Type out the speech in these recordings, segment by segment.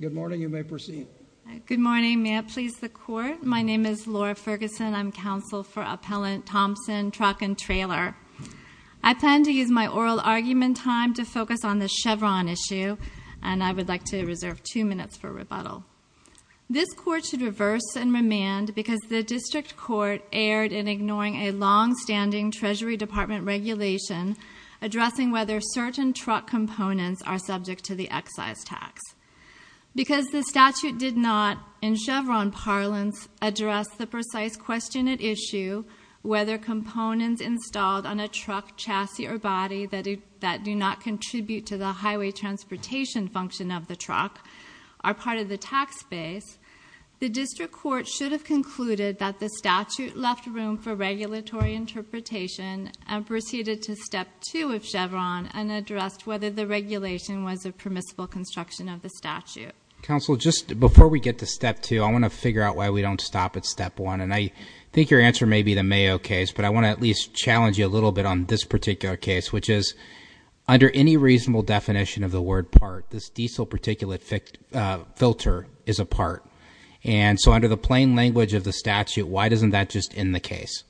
Good morning. May I please the Court? My name is Laura Ferguson. I'm counsel for Appellant Thompson Truck & Trailer. I plan to use my oral argument time to focus on the Chevron issue and I would like to reserve two minutes for rebuttal. This Court should reverse and remand because the District Court erred in ignoring a long-standing Treasury Department regulation addressing whether certain truck components are subject to the excise tax. Because the statute did not, in Chevron parlance, address the precise question at issue whether components installed on a truck chassis or body that do not contribute to the highway transportation function of the truck are part of the tax base, the District Court should have concluded that the statute left room for regulatory interpretation and proceeded to Step 2 of Chevron and addressed whether the regulation was a permissible construction of the statute. Counsel, just before we get to Step 2, I want to figure out why we don't stop at Step 1 and I think your answer may be the Mayo case, but I want to at least challenge you a little bit on this particular case, which is, under any reasonable definition of the word part, this diesel particulate filter is a part. And so under the plain language of the statute, why doesn't that just end the case?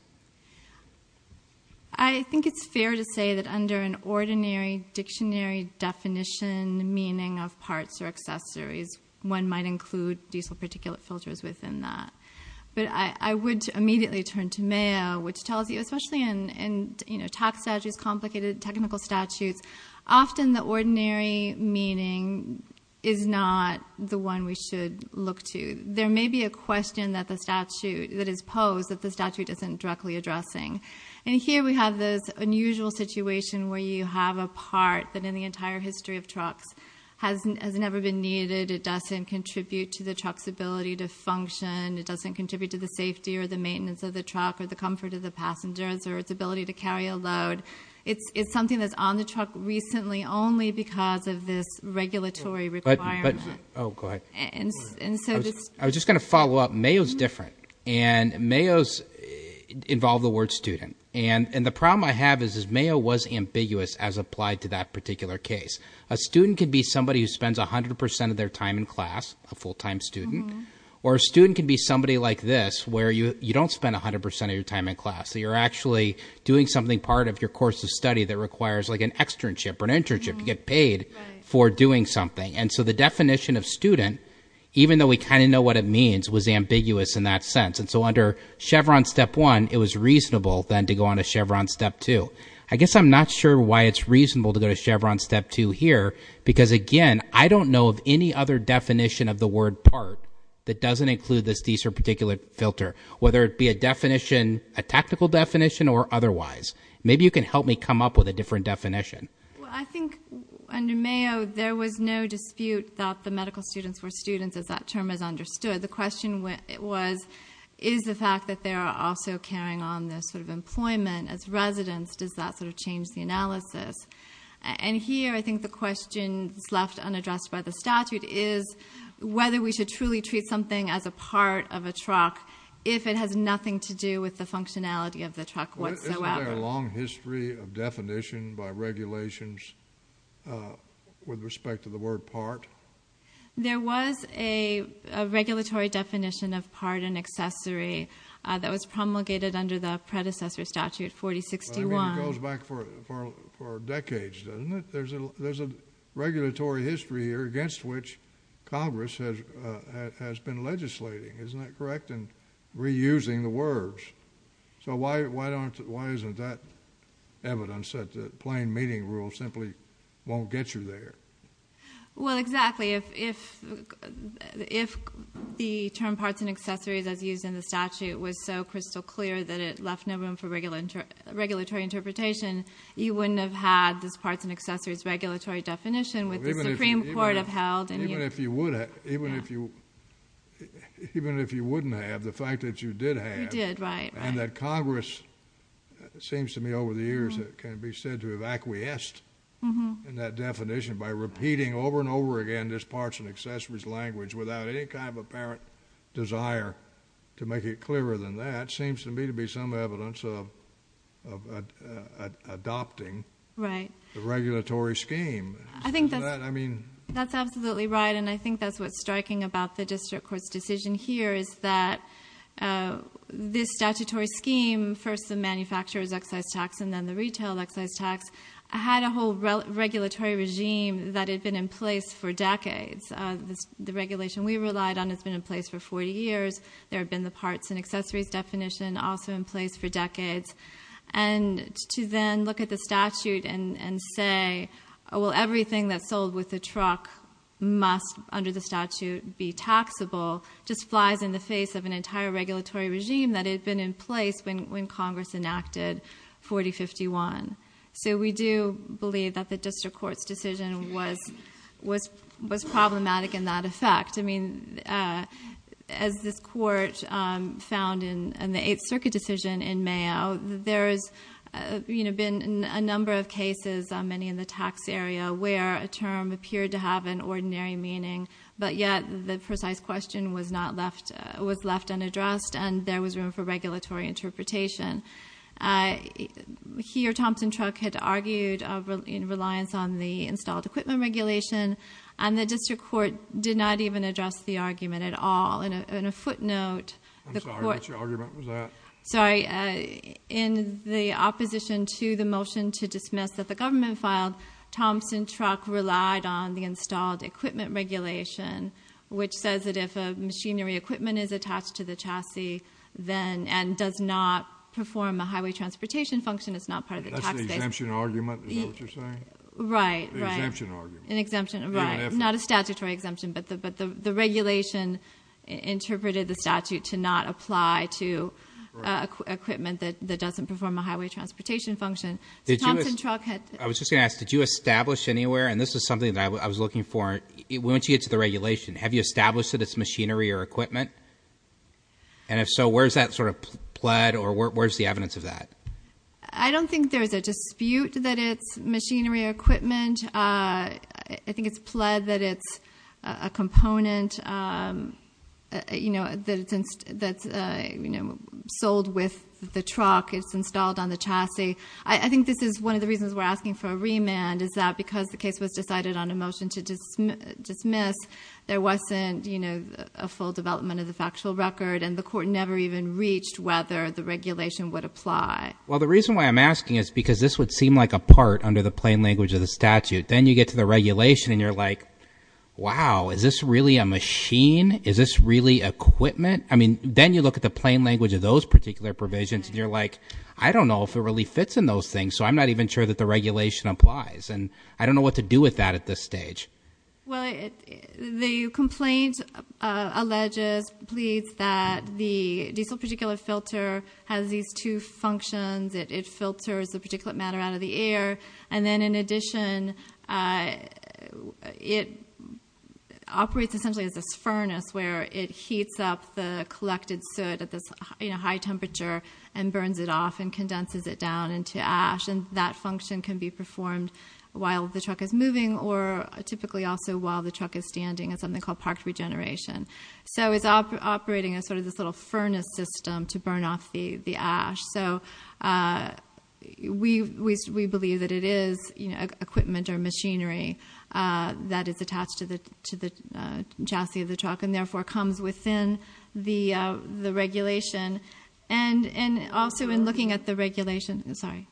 I think it's fair to say that under an ordinary dictionary definition meaning of parts or accessories, one might include diesel particulate filters within that. But I would immediately turn to Mayo, which tells you, especially in tax statutes, complicated technical statutes, often the ordinary meaning is not the one we should look to. There may be a question that is posed that the statute isn't directly addressing. And here we have this unusual situation where you have a part that in the entire history of trucks has never been needed, it doesn't contribute to the truck's ability to function, it doesn't contribute to the safety or the maintenance of the truck or the comfort of the passengers or its ability to carry a load. It's something that's on the truck recently only because of this regulatory requirement. Oh, go ahead. I was just going to follow up. Mayo's different. And Mayo's involve the word student. And the problem I have is Mayo was ambiguous as applied to that particular case. A student could be somebody who spends 100% of their time in class, a full-time student, or a student could be somebody like this, where you don't spend 100% of your time in class. So you're actually doing something part of your course of study that requires like an externship or an internship. You get paid for doing something. And so the definition of student, even though we kind of know what it means, was ambiguous in that sense. And so under Chevron Step 1, it was reasonable then to go on to Chevron Step 2. I guess I'm not sure why it's reasonable to go to Chevron Step 2 here, because again, I don't know of any other definition of the word part that doesn't include this particular filter, whether it a tactical definition or otherwise. Maybe you can help me come up with a different definition. Well, I think under Mayo, there was no dispute that the medical students were students, as that term is understood. The question was, is the fact that they are also carrying on this sort of employment as residents, does that sort of change the analysis? And here, I think the question left unaddressed by the statute is whether we should truly treat something as a part of a truck if it has nothing to do with the functionality of the truck whatsoever. Isn't there a long history of definition by regulations with respect to the word part? There was a regulatory definition of part and accessory that was promulgated under the predecessor statute, 4061. I mean, it goes back for decades, doesn't it? There's a regulatory history here against which Congress has been legislating, isn't that correct? And reusing the words. So why isn't that evidence that the plain meeting rule simply won't get you there? Well, exactly. If the term parts and accessories as used in the statute was so crystal clear that it left no room for regulatory interpretation, you wouldn't have had this parts and accessories regulatory definition with the Supreme Court upheld. Even if you wouldn't have, the fact that you did have. You did, right. And that Congress, it seems to me over the years, can be said to have acquiesced in that definition by repeating over and over again this parts and accessories language without any kind of apparent desire to make it clearer than that seems to me to be some evidence of adopting the regulatory scheme. I think that's absolutely right. And I think that's what's striking about the District Court's decision here is that this statutory scheme, first the manufacturer's excise tax and then the retail excise tax, had a whole regulatory regime that had been in place for decades. The regulation we relied on has been in place for 40 years. There have been the parts and accessories definition also in place for decades. And to then look at the statute and say, well, everything that's sold with the truck must under the statute be taxable, just flies in the face of an entire regulatory regime that had been in place when Congress enacted 4051. So we do believe that the District Court's decision was problematic in that effect. As this Court found in the Eighth Circuit decision in Mayo, there's been a number of cases in the tax area where a term appeared to have an ordinary meaning, but yet the precise question was left unaddressed and there was room for regulatory interpretation. Here, Thompson Truck had argued in reliance on the installed equipment regulation, and the District Court did not even address the argument at all. And a footnote, the Court... I'm sorry, what's your argument? Was that... Sorry. In the opposition to the motion to dismiss that the government filed, Thompson Truck relied on the installed equipment regulation, which says that if a machinery equipment is attached to the chassis, then, and does not perform a highway transportation function, it's not part of the tax base. That's the exemption argument, is that what you're saying? Right, right. The exemption argument. An exemption, right. Not a statutory exemption, but the regulation interpreted the statute to not apply to equipment that doesn't perform a highway transportation function. So Thompson Truck had... I was just going to ask, did you establish anywhere, and this is something that I was looking for, once you get to the regulation, have you established that it's machinery or equipment? And if so, where's that sort of pled or where's the evidence of that? I don't think there's a dispute that it's machinery or equipment. I think it's pled that it's a component that's sold with the truck, it's installed on the chassis. I think this is one of the reasons we're asking for a remand, is that because the case was decided on a motion to dismiss, there wasn't a full development of the factual record and the court never even reached whether the regulation would apply. Well, the reason why I'm asking is because this would seem like a part under the plain language of the statute. Then you get to the wow, is this really a machine? Is this really equipment? Then you look at the plain language of those particular provisions and you're like, I don't know if it really fits in those things, so I'm not even sure that the regulation applies. And I don't know what to do with that at this stage. Well, the complaint alleges, pleads that the diesel particulate filter has these two properties. It operates essentially as this furnace where it heats up the collected soot at this high temperature and burns it off and condenses it down into ash. And that function can be performed while the truck is moving or typically also while the truck is standing at something called parked regeneration. So it's operating as sort of this little furnace system to burn off the ash. So we believe that it is equipment or machinery that is attached to the chassis of the truck and therefore comes within the regulation. And also in looking at the regulation, sorry.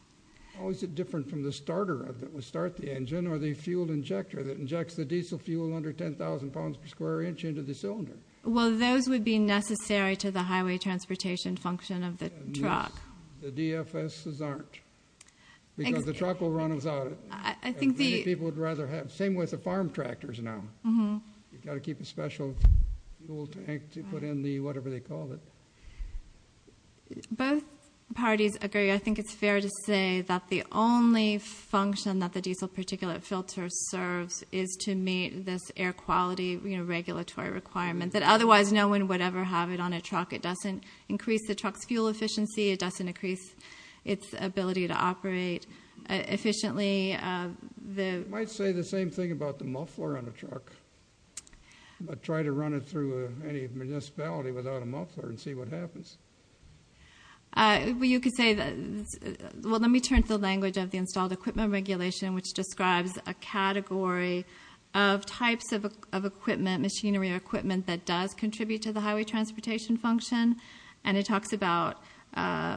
How is it different from the starter that would start the engine or the fuel injector that injects the diesel fuel under 10,000 pounds per square inch into the cylinder? Well, those would be necessary to the highway transportation function of the truck. The DFSs aren't, because the truck will run without it. Many people would rather have, same with the farm tractors now. You've got to keep a special tool tank to put in the whatever they call it. Both parties agree. I think it's fair to say that the only function that the diesel particulate filter serves is to meet this air quality regulatory requirement, that otherwise no one would ever have it on a truck. It doesn't increase the truck's fuel efficiency. It doesn't increase its ability to operate efficiently. I might say the same thing about the muffler on a truck, but try to run it through any municipality without a muffler and see what happens. Well, you could say that, well, let me turn to the language of the installed equipment regulation, which describes a category of types of equipment, machinery or equipment that does contribute to the highway transportation function. It talks about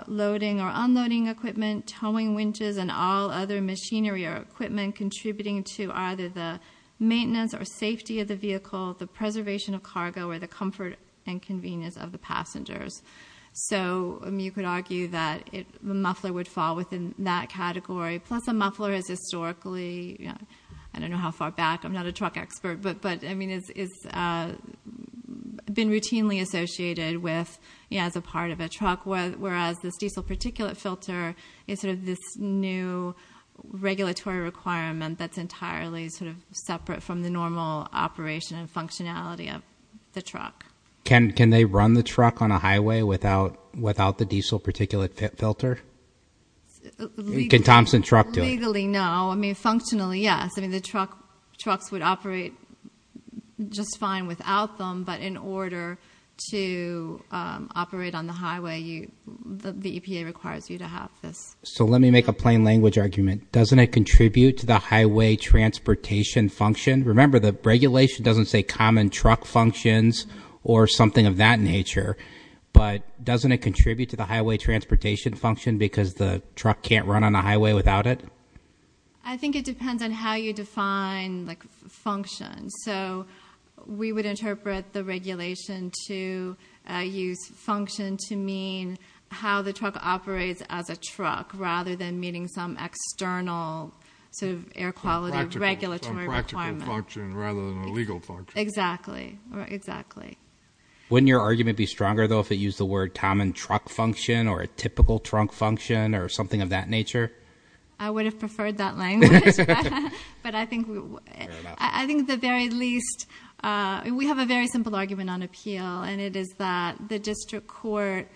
loading or unloading equipment, towing winches and all other machinery or equipment contributing to either the maintenance or safety of the vehicle, the preservation of cargo or the comfort and convenience of the passengers. So you could argue that the muffler would fall within that category, plus a muffler has historically, I don't know how far back, I'm not a truck expert, but it's been routinely associated with as a part of a truck, whereas this diesel particulate filter is this new regulatory requirement that's entirely separate from the normal operation and functionality of the truck. Can they run the truck on a highway without the diesel particulate filter? Can Thompson truck do it? Legally, no. I mean, functionally, yes. I mean, the trucks would operate just fine without them, but in order to operate on the highway, the EPA requires you to have this. So let me make a plain language argument. Doesn't it contribute to the highway transportation function? Remember, the regulation doesn't say common truck functions or something of that nature, but doesn't it contribute to the highway transportation function because the truck can't run on a highway without it? I think it depends on how you define function. So we would interpret the regulation to use function to mean how the truck operates as a truck rather than meeting some external sort of air quality regulatory requirement. Some practical function rather than a legal function. Exactly. Exactly. Wouldn't your argument be stronger, though, if it used the word common truck function or a typical trunk function or something of that nature? I would have preferred that language, but I think the very least, we have a very simple argument on appeal, and it is that the district court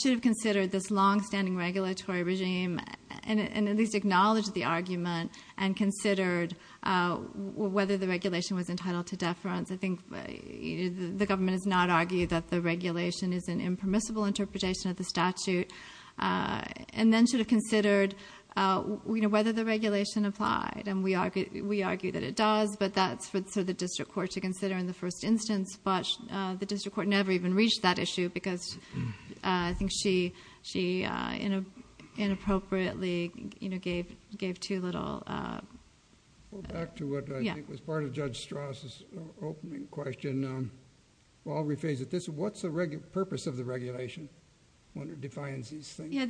should have longstanding regulatory regime and at least acknowledged the argument and considered whether the regulation was entitled to deference. I think the government has not argued that the regulation is an impermissible interpretation of the statute and then should have considered whether the regulation applied. And we argue that it does, but that's for the district court to consider in the first instance. The district court never even reached that issue because I think she inappropriately gave too little. Go back to what I think was part of Judge Strauss' opening question. I'll rephrase it. What's the purpose of the regulation when it defines these things?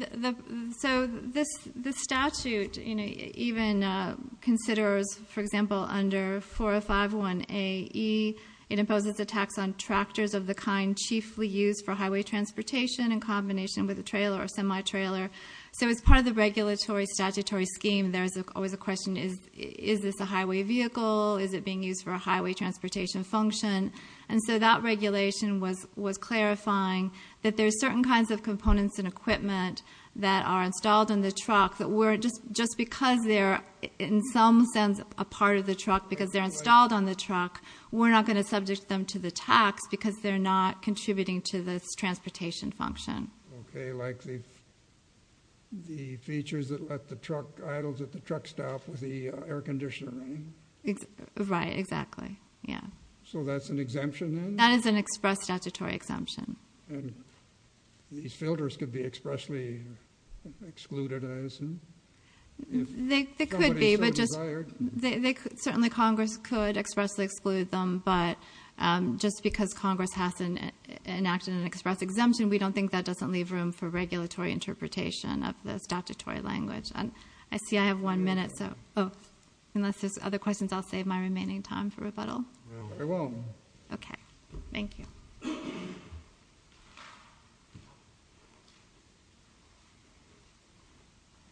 So the statute even considers, for example, under 4051AE, it imposes a tax on tractors of the kind chiefly used for highway transportation in combination with a trailer or semi-trailer. So as part of the regulatory statutory scheme, there's always a question, is this a highway vehicle? Is it being used for a highway transportation function? And so that regulation was clarifying that there's certain kinds of components and equipment that are installed in the truck that were just because they're in some sense a part of the truck because they're installed on the truck, we're not going to subject them to the tax because they're not contributing to this transportation function. Okay, like the features that let the truck idle at the truck stop with the air conditioner running? Right, exactly. Yeah. So that's an exemption then? That is an express statutory exemption. And these filters could be expressly excluded, I assume? They could be, but certainly Congress could expressly exclude them. But just because Congress has enacted an express exemption, we don't think that doesn't leave room for regulatory interpretation of the statutory language. And I see I have one minute, so unless there's other questions, I'll save my remaining time for rebuttal. Very well. Okay, thank you. Thank you.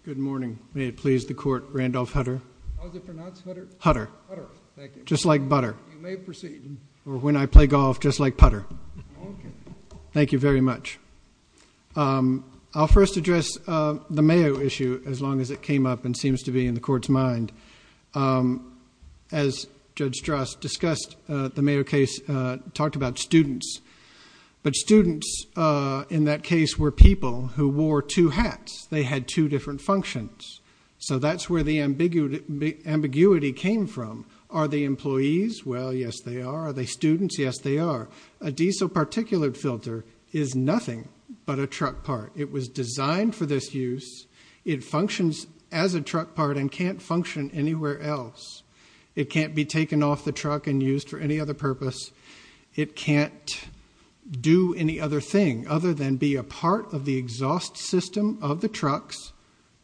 Good morning. May it please the Court, Randolph Hutter. How is it pronounced, Hutter? Hutter. Hutter, thank you. Just like butter. You may proceed. Or when I play golf, just like putter. Okay. Thank you very much. I'll first address the Mayo issue as long as it came up and seems to be in the Court's mind. As Judge Strass discussed, the Mayo case talked about students. But students in that case were people who wore two hats. They had two different functions. So that's where the ambiguity came from. Are they employees? Well, yes, they are. Are they students? Yes, they are. A diesel particulate filter is nothing but a truck part. It was designed for this use. It functions as a truck part and can't function anywhere else. It can't be taken off the truck and used for any other purpose. It can't do any other thing other than be a part of the exhaust system of the trucks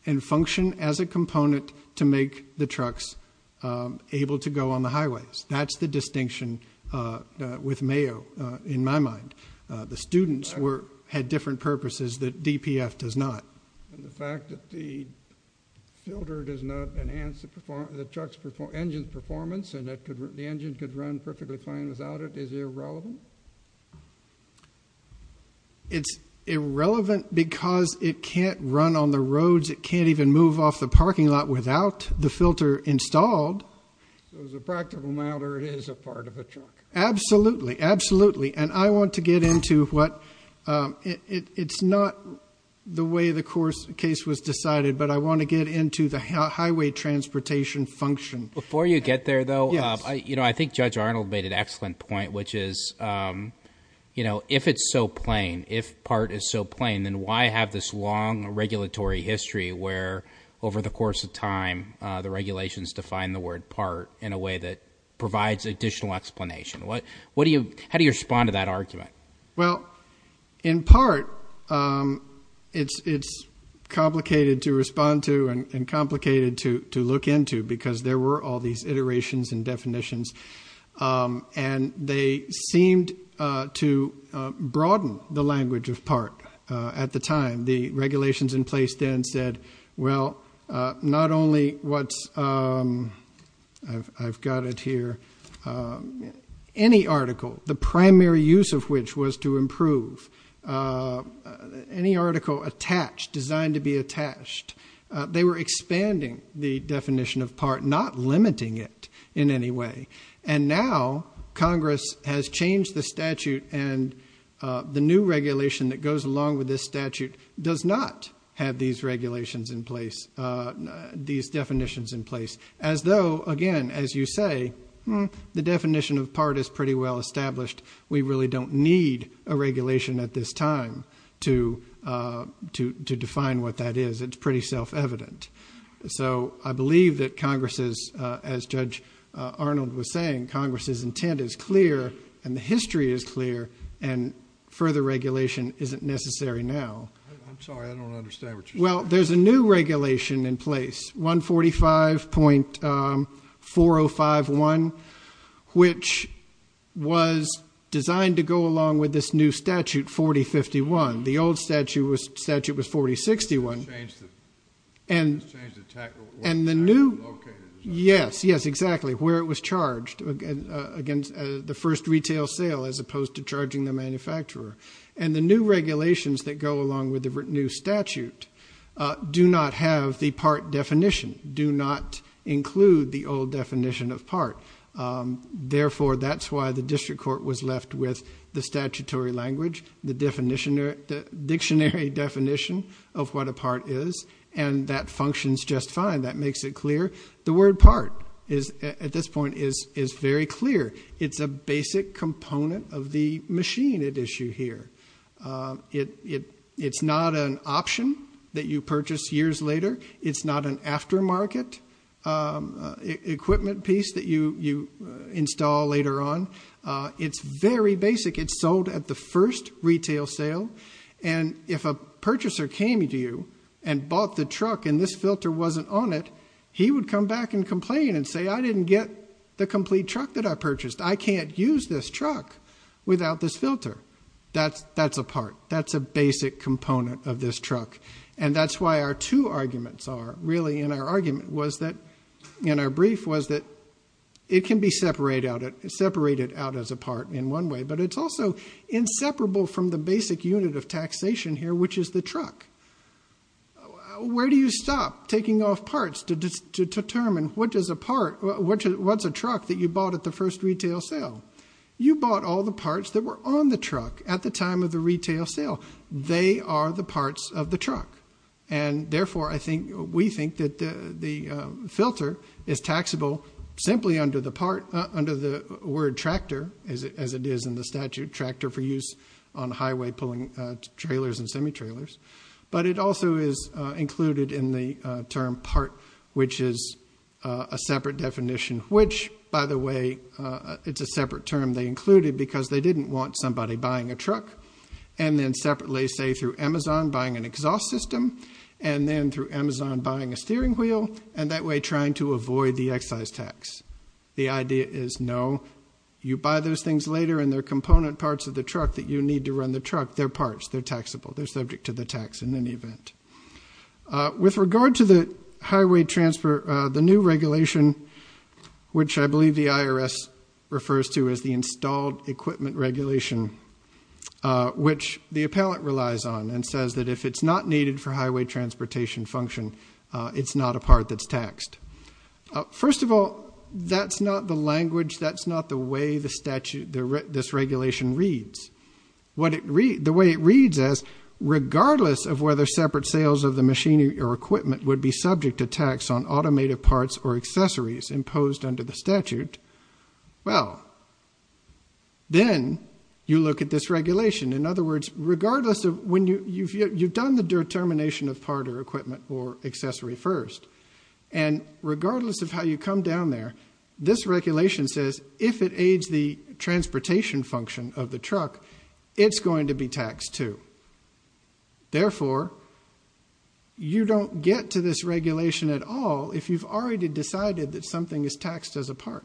and function as a component to make the trucks able to go on the highways. That's the distinction with Mayo, in my mind. The students had different purposes that DPF does not. And the fact that the filter does not enhance the truck's engine performance and that the engine could run perfectly fine without it is irrelevant. It's irrelevant because it can't run on the roads. It can't even move off the parking lot without the filter installed. So as a practical matter, it is a part of a truck. Absolutely, absolutely. And I want to get into what it's not the way the course case was decided, but I want to get into the highway transportation function. Before you get there, though, I think Judge Arnold made an excellent point, which is if it's so plain, if part is so plain, then why have this long regulatory history where over the course of time, the regulations define the word part in a way that provides additional explanation? How do you respond to that argument? Well, in part, it's complicated to respond to and complicated to look into because there were all these iterations and definitions. And they seemed to broaden the language of part at the time. The regulations in place then said, well, not only what's... I've got it here. Any article, the primary use of which was to improve. Any article attached, designed to be attached. They were expanding the definition of part, not limiting it in any way. And now Congress has changed the statute and the new regulation that goes along with this statute does not have these regulations in place, these definitions in place. As though, again, as you say, the definition of part is pretty well established. We really don't need a regulation at this time to define what that is. It's pretty self-evident. So I believe that Congress's, as Judge Arnold was saying, Congress's intent is clear and the history is clear and further regulation isn't necessary now. I'm sorry, I don't understand what you're saying. There's a new regulation in place, 145.4051, which was designed to go along with this new statute, 4051. The old statute was statute was 4061 and the new... Yes, yes, exactly, where it was charged against the first retail sale as opposed to charging the manufacturer. And the new regulations that go along with the new statute do not have the part definition, do not include the old definition of part. Therefore, that's why the district court was left with the statutory language, the dictionary definition of what a part is, and that functions just fine. That makes it clear. The word part is, at this point, is very clear. It's a basic component of the machine at issue here. It's not an option that you purchase years later. It's not an aftermarket equipment piece that you install later on. It's very basic. It's sold at the first retail sale and if a purchaser came to you and bought the truck and this filter wasn't on it, he would come back and complain and say, I didn't get the complete truck that I purchased. I can't use this truck without this filter. That's a part. That's a basic component of this truck. And that's why our two arguments are really in our argument was that, in our brief, was that it can be separated out as a part in one way, but it's also inseparable from the basic unit of taxation here, which is the truck. Where do you stop taking off parts to determine what is a part, what's a truck that you bought at the first retail sale? You bought all the parts that were on the truck at the time of the retail sale. They are the parts of the truck. And therefore, I think, we think that the filter is taxable simply under the part, under the word tractor, as it is in the statute, tractor for use on highway pulling trailers and semi-trailers. But it also is included in the term part, which is a separate definition, which, by the way, it's a separate term they included because they didn't want somebody buying a truck and then separately, say, through Amazon buying an exhaust system and then through Amazon buying a steering wheel and that way trying to avoid the excise tax. The idea is, no, you buy those things later and they're component parts of the truck that you need to run the truck. They're parts. They're taxable. They're subject to the tax in any event. With regard to the highway transfer, the new regulation, which I believe the IRS refers to as the installed equipment regulation, which the appellant relies on and says that if it's not needed for highway transportation function, it's not a part that's taxed. First of all, that's not the language. That's not the way this regulation reads. What it reads, the way it reads as regardless of whether separate sales of the machinery or equipment would be subject to tax on automated parts or accessories imposed under the statute, well, then you look at this regulation. In other words, regardless of when you've done the determination of part or equipment or accessory first and regardless of how you come down there, this regulation says if it aids the transportation function of the truck, it's going to be taxed too. Therefore, you don't get to this regulation at all if you've already decided that something is taxed as a part.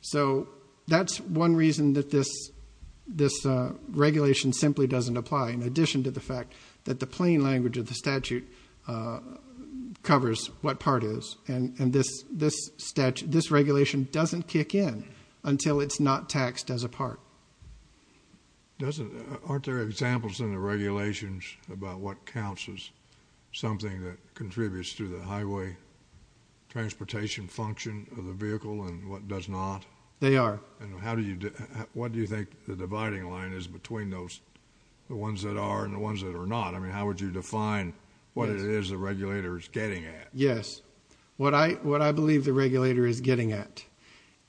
So that's one reason that this regulation simply doesn't apply in addition to the fact that the plain language of the statute covers what part is and this regulation doesn't kick in until it's not taxed as a part. Doesn't, aren't there examples in the regulations about what counts as something that contributes to the highway transportation function of the vehicle and what does not? They are. And how do you, what do you think the dividing line is between those, the ones that are and the ones that are not? I mean, how would you define what it is the regulator is getting at? Yes, what I believe the regulator is getting at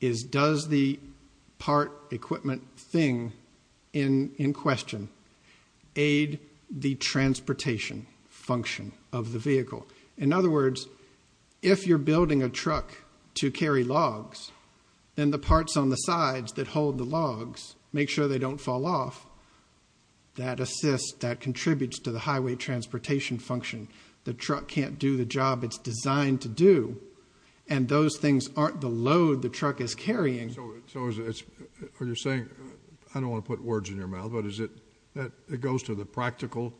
is does the part equipment thing in question aid the transportation function of the vehicle? In other words, if you're building a truck to carry logs, then the parts on the sides that hold the logs, make sure they don't fall off, that assists, that contributes to the highway transportation function. The truck can't do the job it's designed to do and those things aren't the load the truck is carrying. You're saying, I don't want to put words in your mouth, but is it that it goes to the practical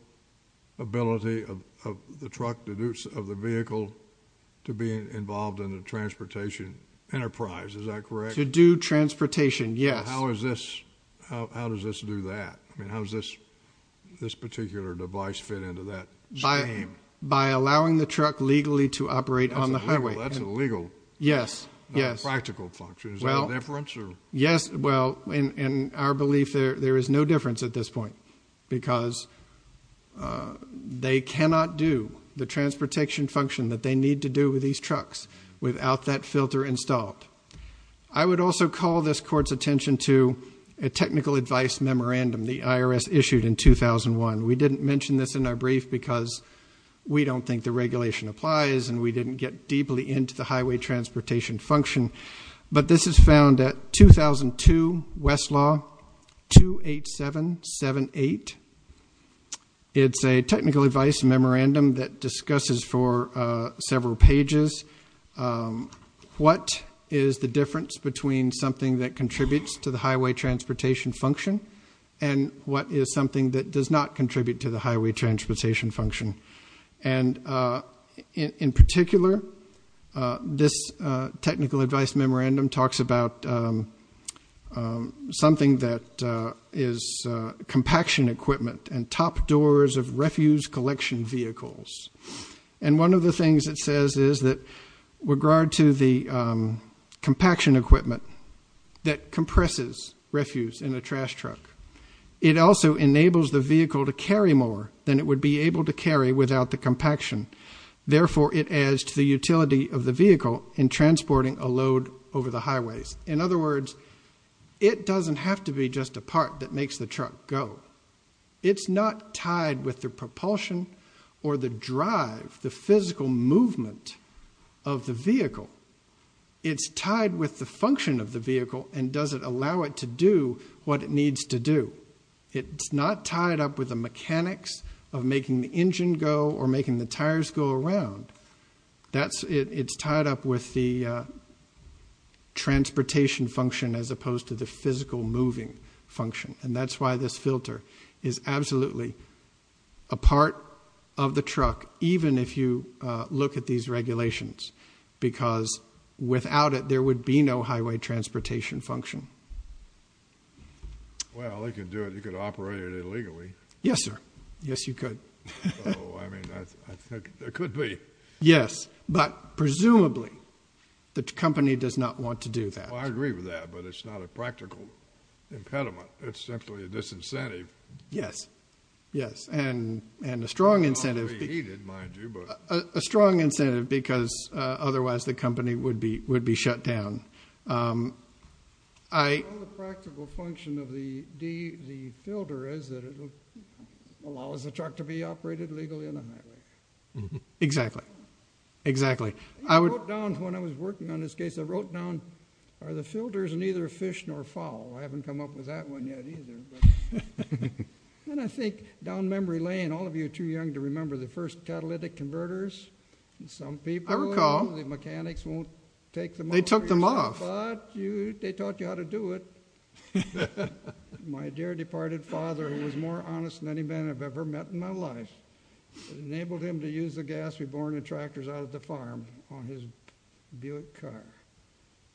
ability of the truck, the use of the vehicle, to be involved in the transportation enterprise, is that correct? To do transportation, yes. How is this, how does this do that? I mean, how does this particular device fit into that? By allowing the truck legally to operate on the highway. That's illegal. Yes, yes. Practical function, is there a difference or? Yes, well, in our belief there is no difference at this point because they cannot do the transportation function that they need to do with these trucks without that filter installed. I would also call this court's attention to a technical advice memorandum the IRS issued in 2001. We didn't mention this in our brief because we don't think the regulation applies and we didn't get deeply into the highway transportation function. But this is found at 2002 Westlaw 28778. It's a technical advice memorandum that discusses for several pages what is the difference between something that contributes to the highway transportation function and what is something that does not contribute to the highway transportation function. And in particular, this technical advice memorandum talks about something that is compaction equipment and top doors of refuse collection vehicles. And one of the things it says is that regard to the compaction equipment that compresses refuse in a trash truck, it also enables the vehicle to carry more than it would be able to carry without the compaction. Therefore, it adds to the utility of the vehicle in transporting a load over the highways. In other words, it doesn't have to be just a part that makes the truck go. It's not tied with the propulsion or the drive, the physical movement of the vehicle. It's tied with the function of the vehicle and doesn't allow it to do what it needs to do. It's not tied up with the mechanics of making the engine go or making the tires go around. It's tied up with the transportation function as opposed to the physical moving function. And that's why this filter is absolutely a part of the truck even if you look at these regulations because without it, there would be no highway transportation function. Well, they could do it. You could operate it illegally. Yes, sir. Yes, you could. Oh, I mean, I think there could be. Yes, but presumably the company does not want to do that. Well, I agree with that, but it's not a practical impediment. It's simply a disincentive. Yes. Yes. And a strong incentive. A strong incentive because otherwise the company would be shut down. Well, the practical function of the filter is that it allows the truck to be operated legally on the highway. Exactly. Exactly. I wrote down when I was working on this case, I wrote down are the filters neither fish nor fowl. I haven't come up with that one yet either. And I think down memory lane, all of you are too young to remember the first catalytic converters. Some people, the mechanics won't take them off. They took them off. But they taught you how to do it. My dear departed father, he was more honest than any man I've ever met in my life. It enabled him to use the gas we borne in tractors out of the farm on his Buick car.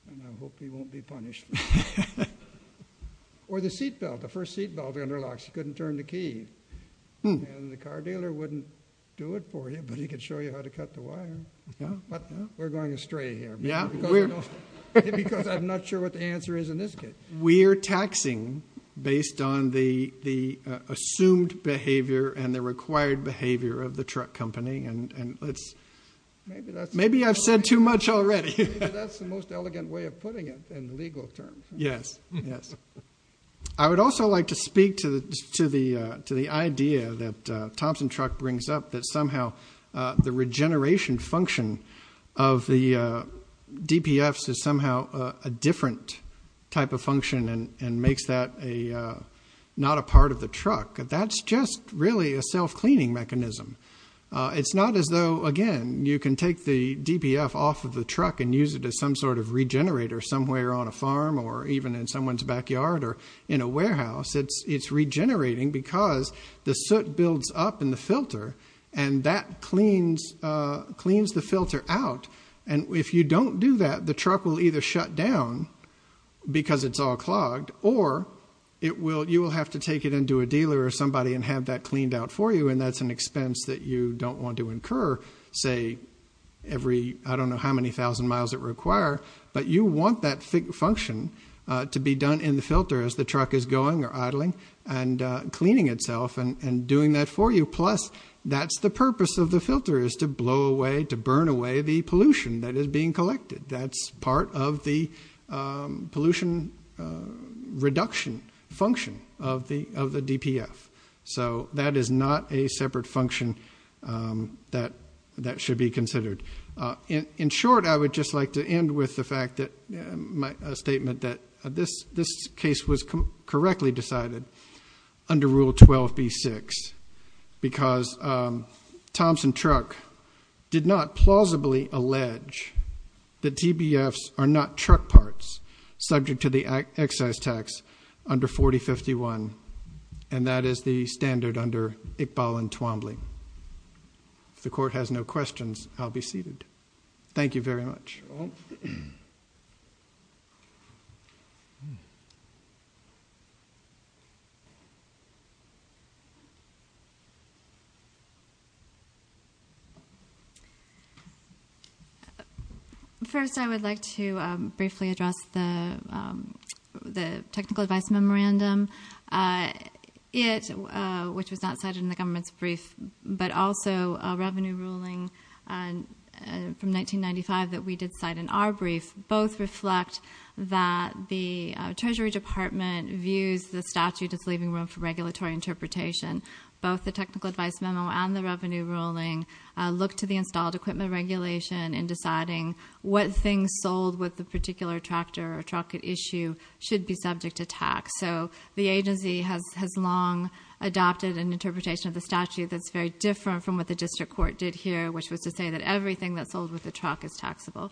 And I hope he won't be punished. Or the seat belt, the first seat belt under locks, he couldn't turn the key. And the car dealer wouldn't do it for you, but he could show you how to cut the wire. We're going astray here. Yeah, because I'm not sure what the answer is in this case. We're taxing based on the assumed behavior and the required behavior of the truck company. And maybe I've said too much already. That's the most elegant way of putting it in legal terms. Yes, yes. I would also like to speak to the idea that Thompson Truck brings up that somehow the regeneration function of the DPFs is somehow a different type of function and makes that not a part of the truck. That's just really a self-cleaning mechanism. It's not as though, again, you can take the DPF off of the truck and use it as some sort of regenerator somewhere on a farm or even in someone's backyard or in a warehouse. It's regenerating because the soot builds up in the filter and that cleans the filter out. And if you don't do that, the truck will either shut down because it's all clogged or you will have to take it into a dealer or somebody and have that cleaned out for you. And that's an expense that you don't want to incur, say every, I don't know how many thousand miles it require, but you want that function to be done in the filter as the truck is going or idling and cleaning itself and doing that for you. Plus that's the purpose of the filter is to blow away, to burn away the pollution that is being collected. That's part of the pollution reduction function of the DPF. So that is not a separate function that should be considered. In short, I would just like to end with the fact that a statement that this case was correctly decided under Rule 12b-6 because Thompson Truck did not plausibly allege that DBFs are not truck parts subject to the excise tax under 4051 and that is the standard under Iqbal and Twombly. If the court has no questions, I'll be seated. Thank you very much. Thank you. First, I would like to briefly address the technical advice memorandum, which was not cited in the government's brief, but also a revenue ruling from 1995 that we did cite in our brief. Both reflect that the Treasury Department views the statute as leaving room for regulatory interpretation. Both the technical advice memo and the revenue ruling look to the installed equipment regulation in deciding what things sold with the particular tractor or truck at issue should be subject to tax. So the agency has long adopted an interpretation of the statute that's very different from what the district court did here, which was to say that everything that's sold with the truck is taxable.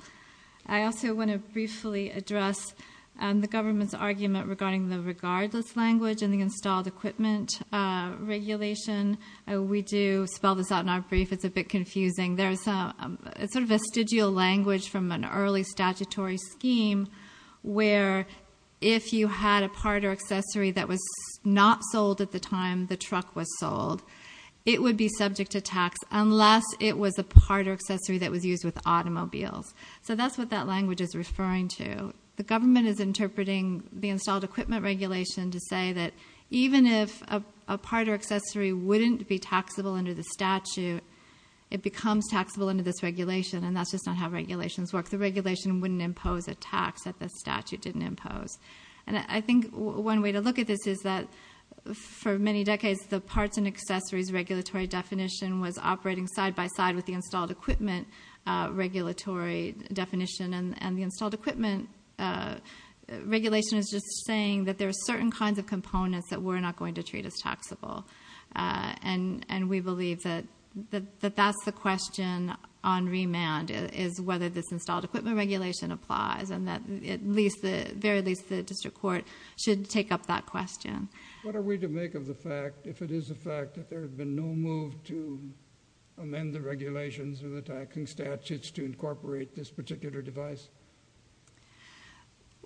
I also want to briefly address the government's argument regarding the regardless language and the installed equipment regulation. We do spell this out in our brief. It's a bit confusing. There's a sort of vestigial language from an early statutory scheme where if you had a part or accessory that was not sold at the time the truck was sold, it would be subject to tax unless it was a part or accessory that was used with automobiles. So that's what that language is referring to. The government is interpreting the installed equipment regulation to say that even if a part or accessory wouldn't be taxable under the statute, it becomes taxable under this regulation. And that's just not how regulations work. The regulation wouldn't impose a tax that the statute didn't impose. And I think one way to look at this is that for many decades, the parts and accessories regulatory definition was operating side by side with the installed equipment regulatory definition. And the installed equipment regulation is just saying that there are certain kinds of components that we're not going to treat as taxable. And we believe that that's the question on remand is whether this installed equipment regulation applies and that at least, very least the district court should take up that question. What are we to make of the fact if it is a fact that there has been no move to amend the regulations or the taxing statutes to incorporate this particular device?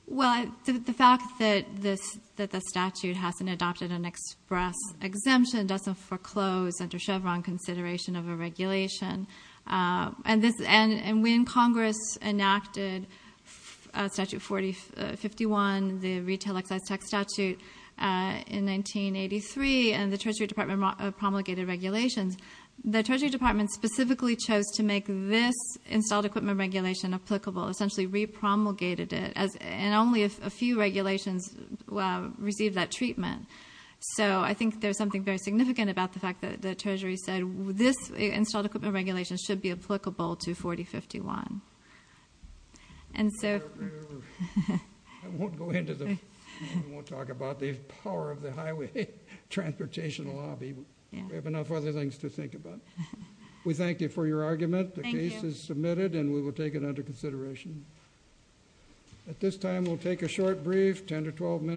Well, the fact that the statute hasn't adopted an express exemption doesn't foreclose under Chevron consideration of a regulation. And when Congress enacted Statute 4051, the retail excise tax statute in 1983 and the Treasury Department promulgated regulations, the Treasury Department specifically chose to make this installed equipment regulation applicable, essentially re-promulgated it and only a few regulations received that treatment. So I think there's something very significant about the fact that the Treasury said this installed equipment regulation should be applicable to 4051. And so... I won't go into the... We won't talk about the power of the highway transportation lobby. We have enough other things to think about. We thank you for your argument. The case is submitted and we will take it under consideration. At this time, we'll take a short brief, 10 to 12 minutes.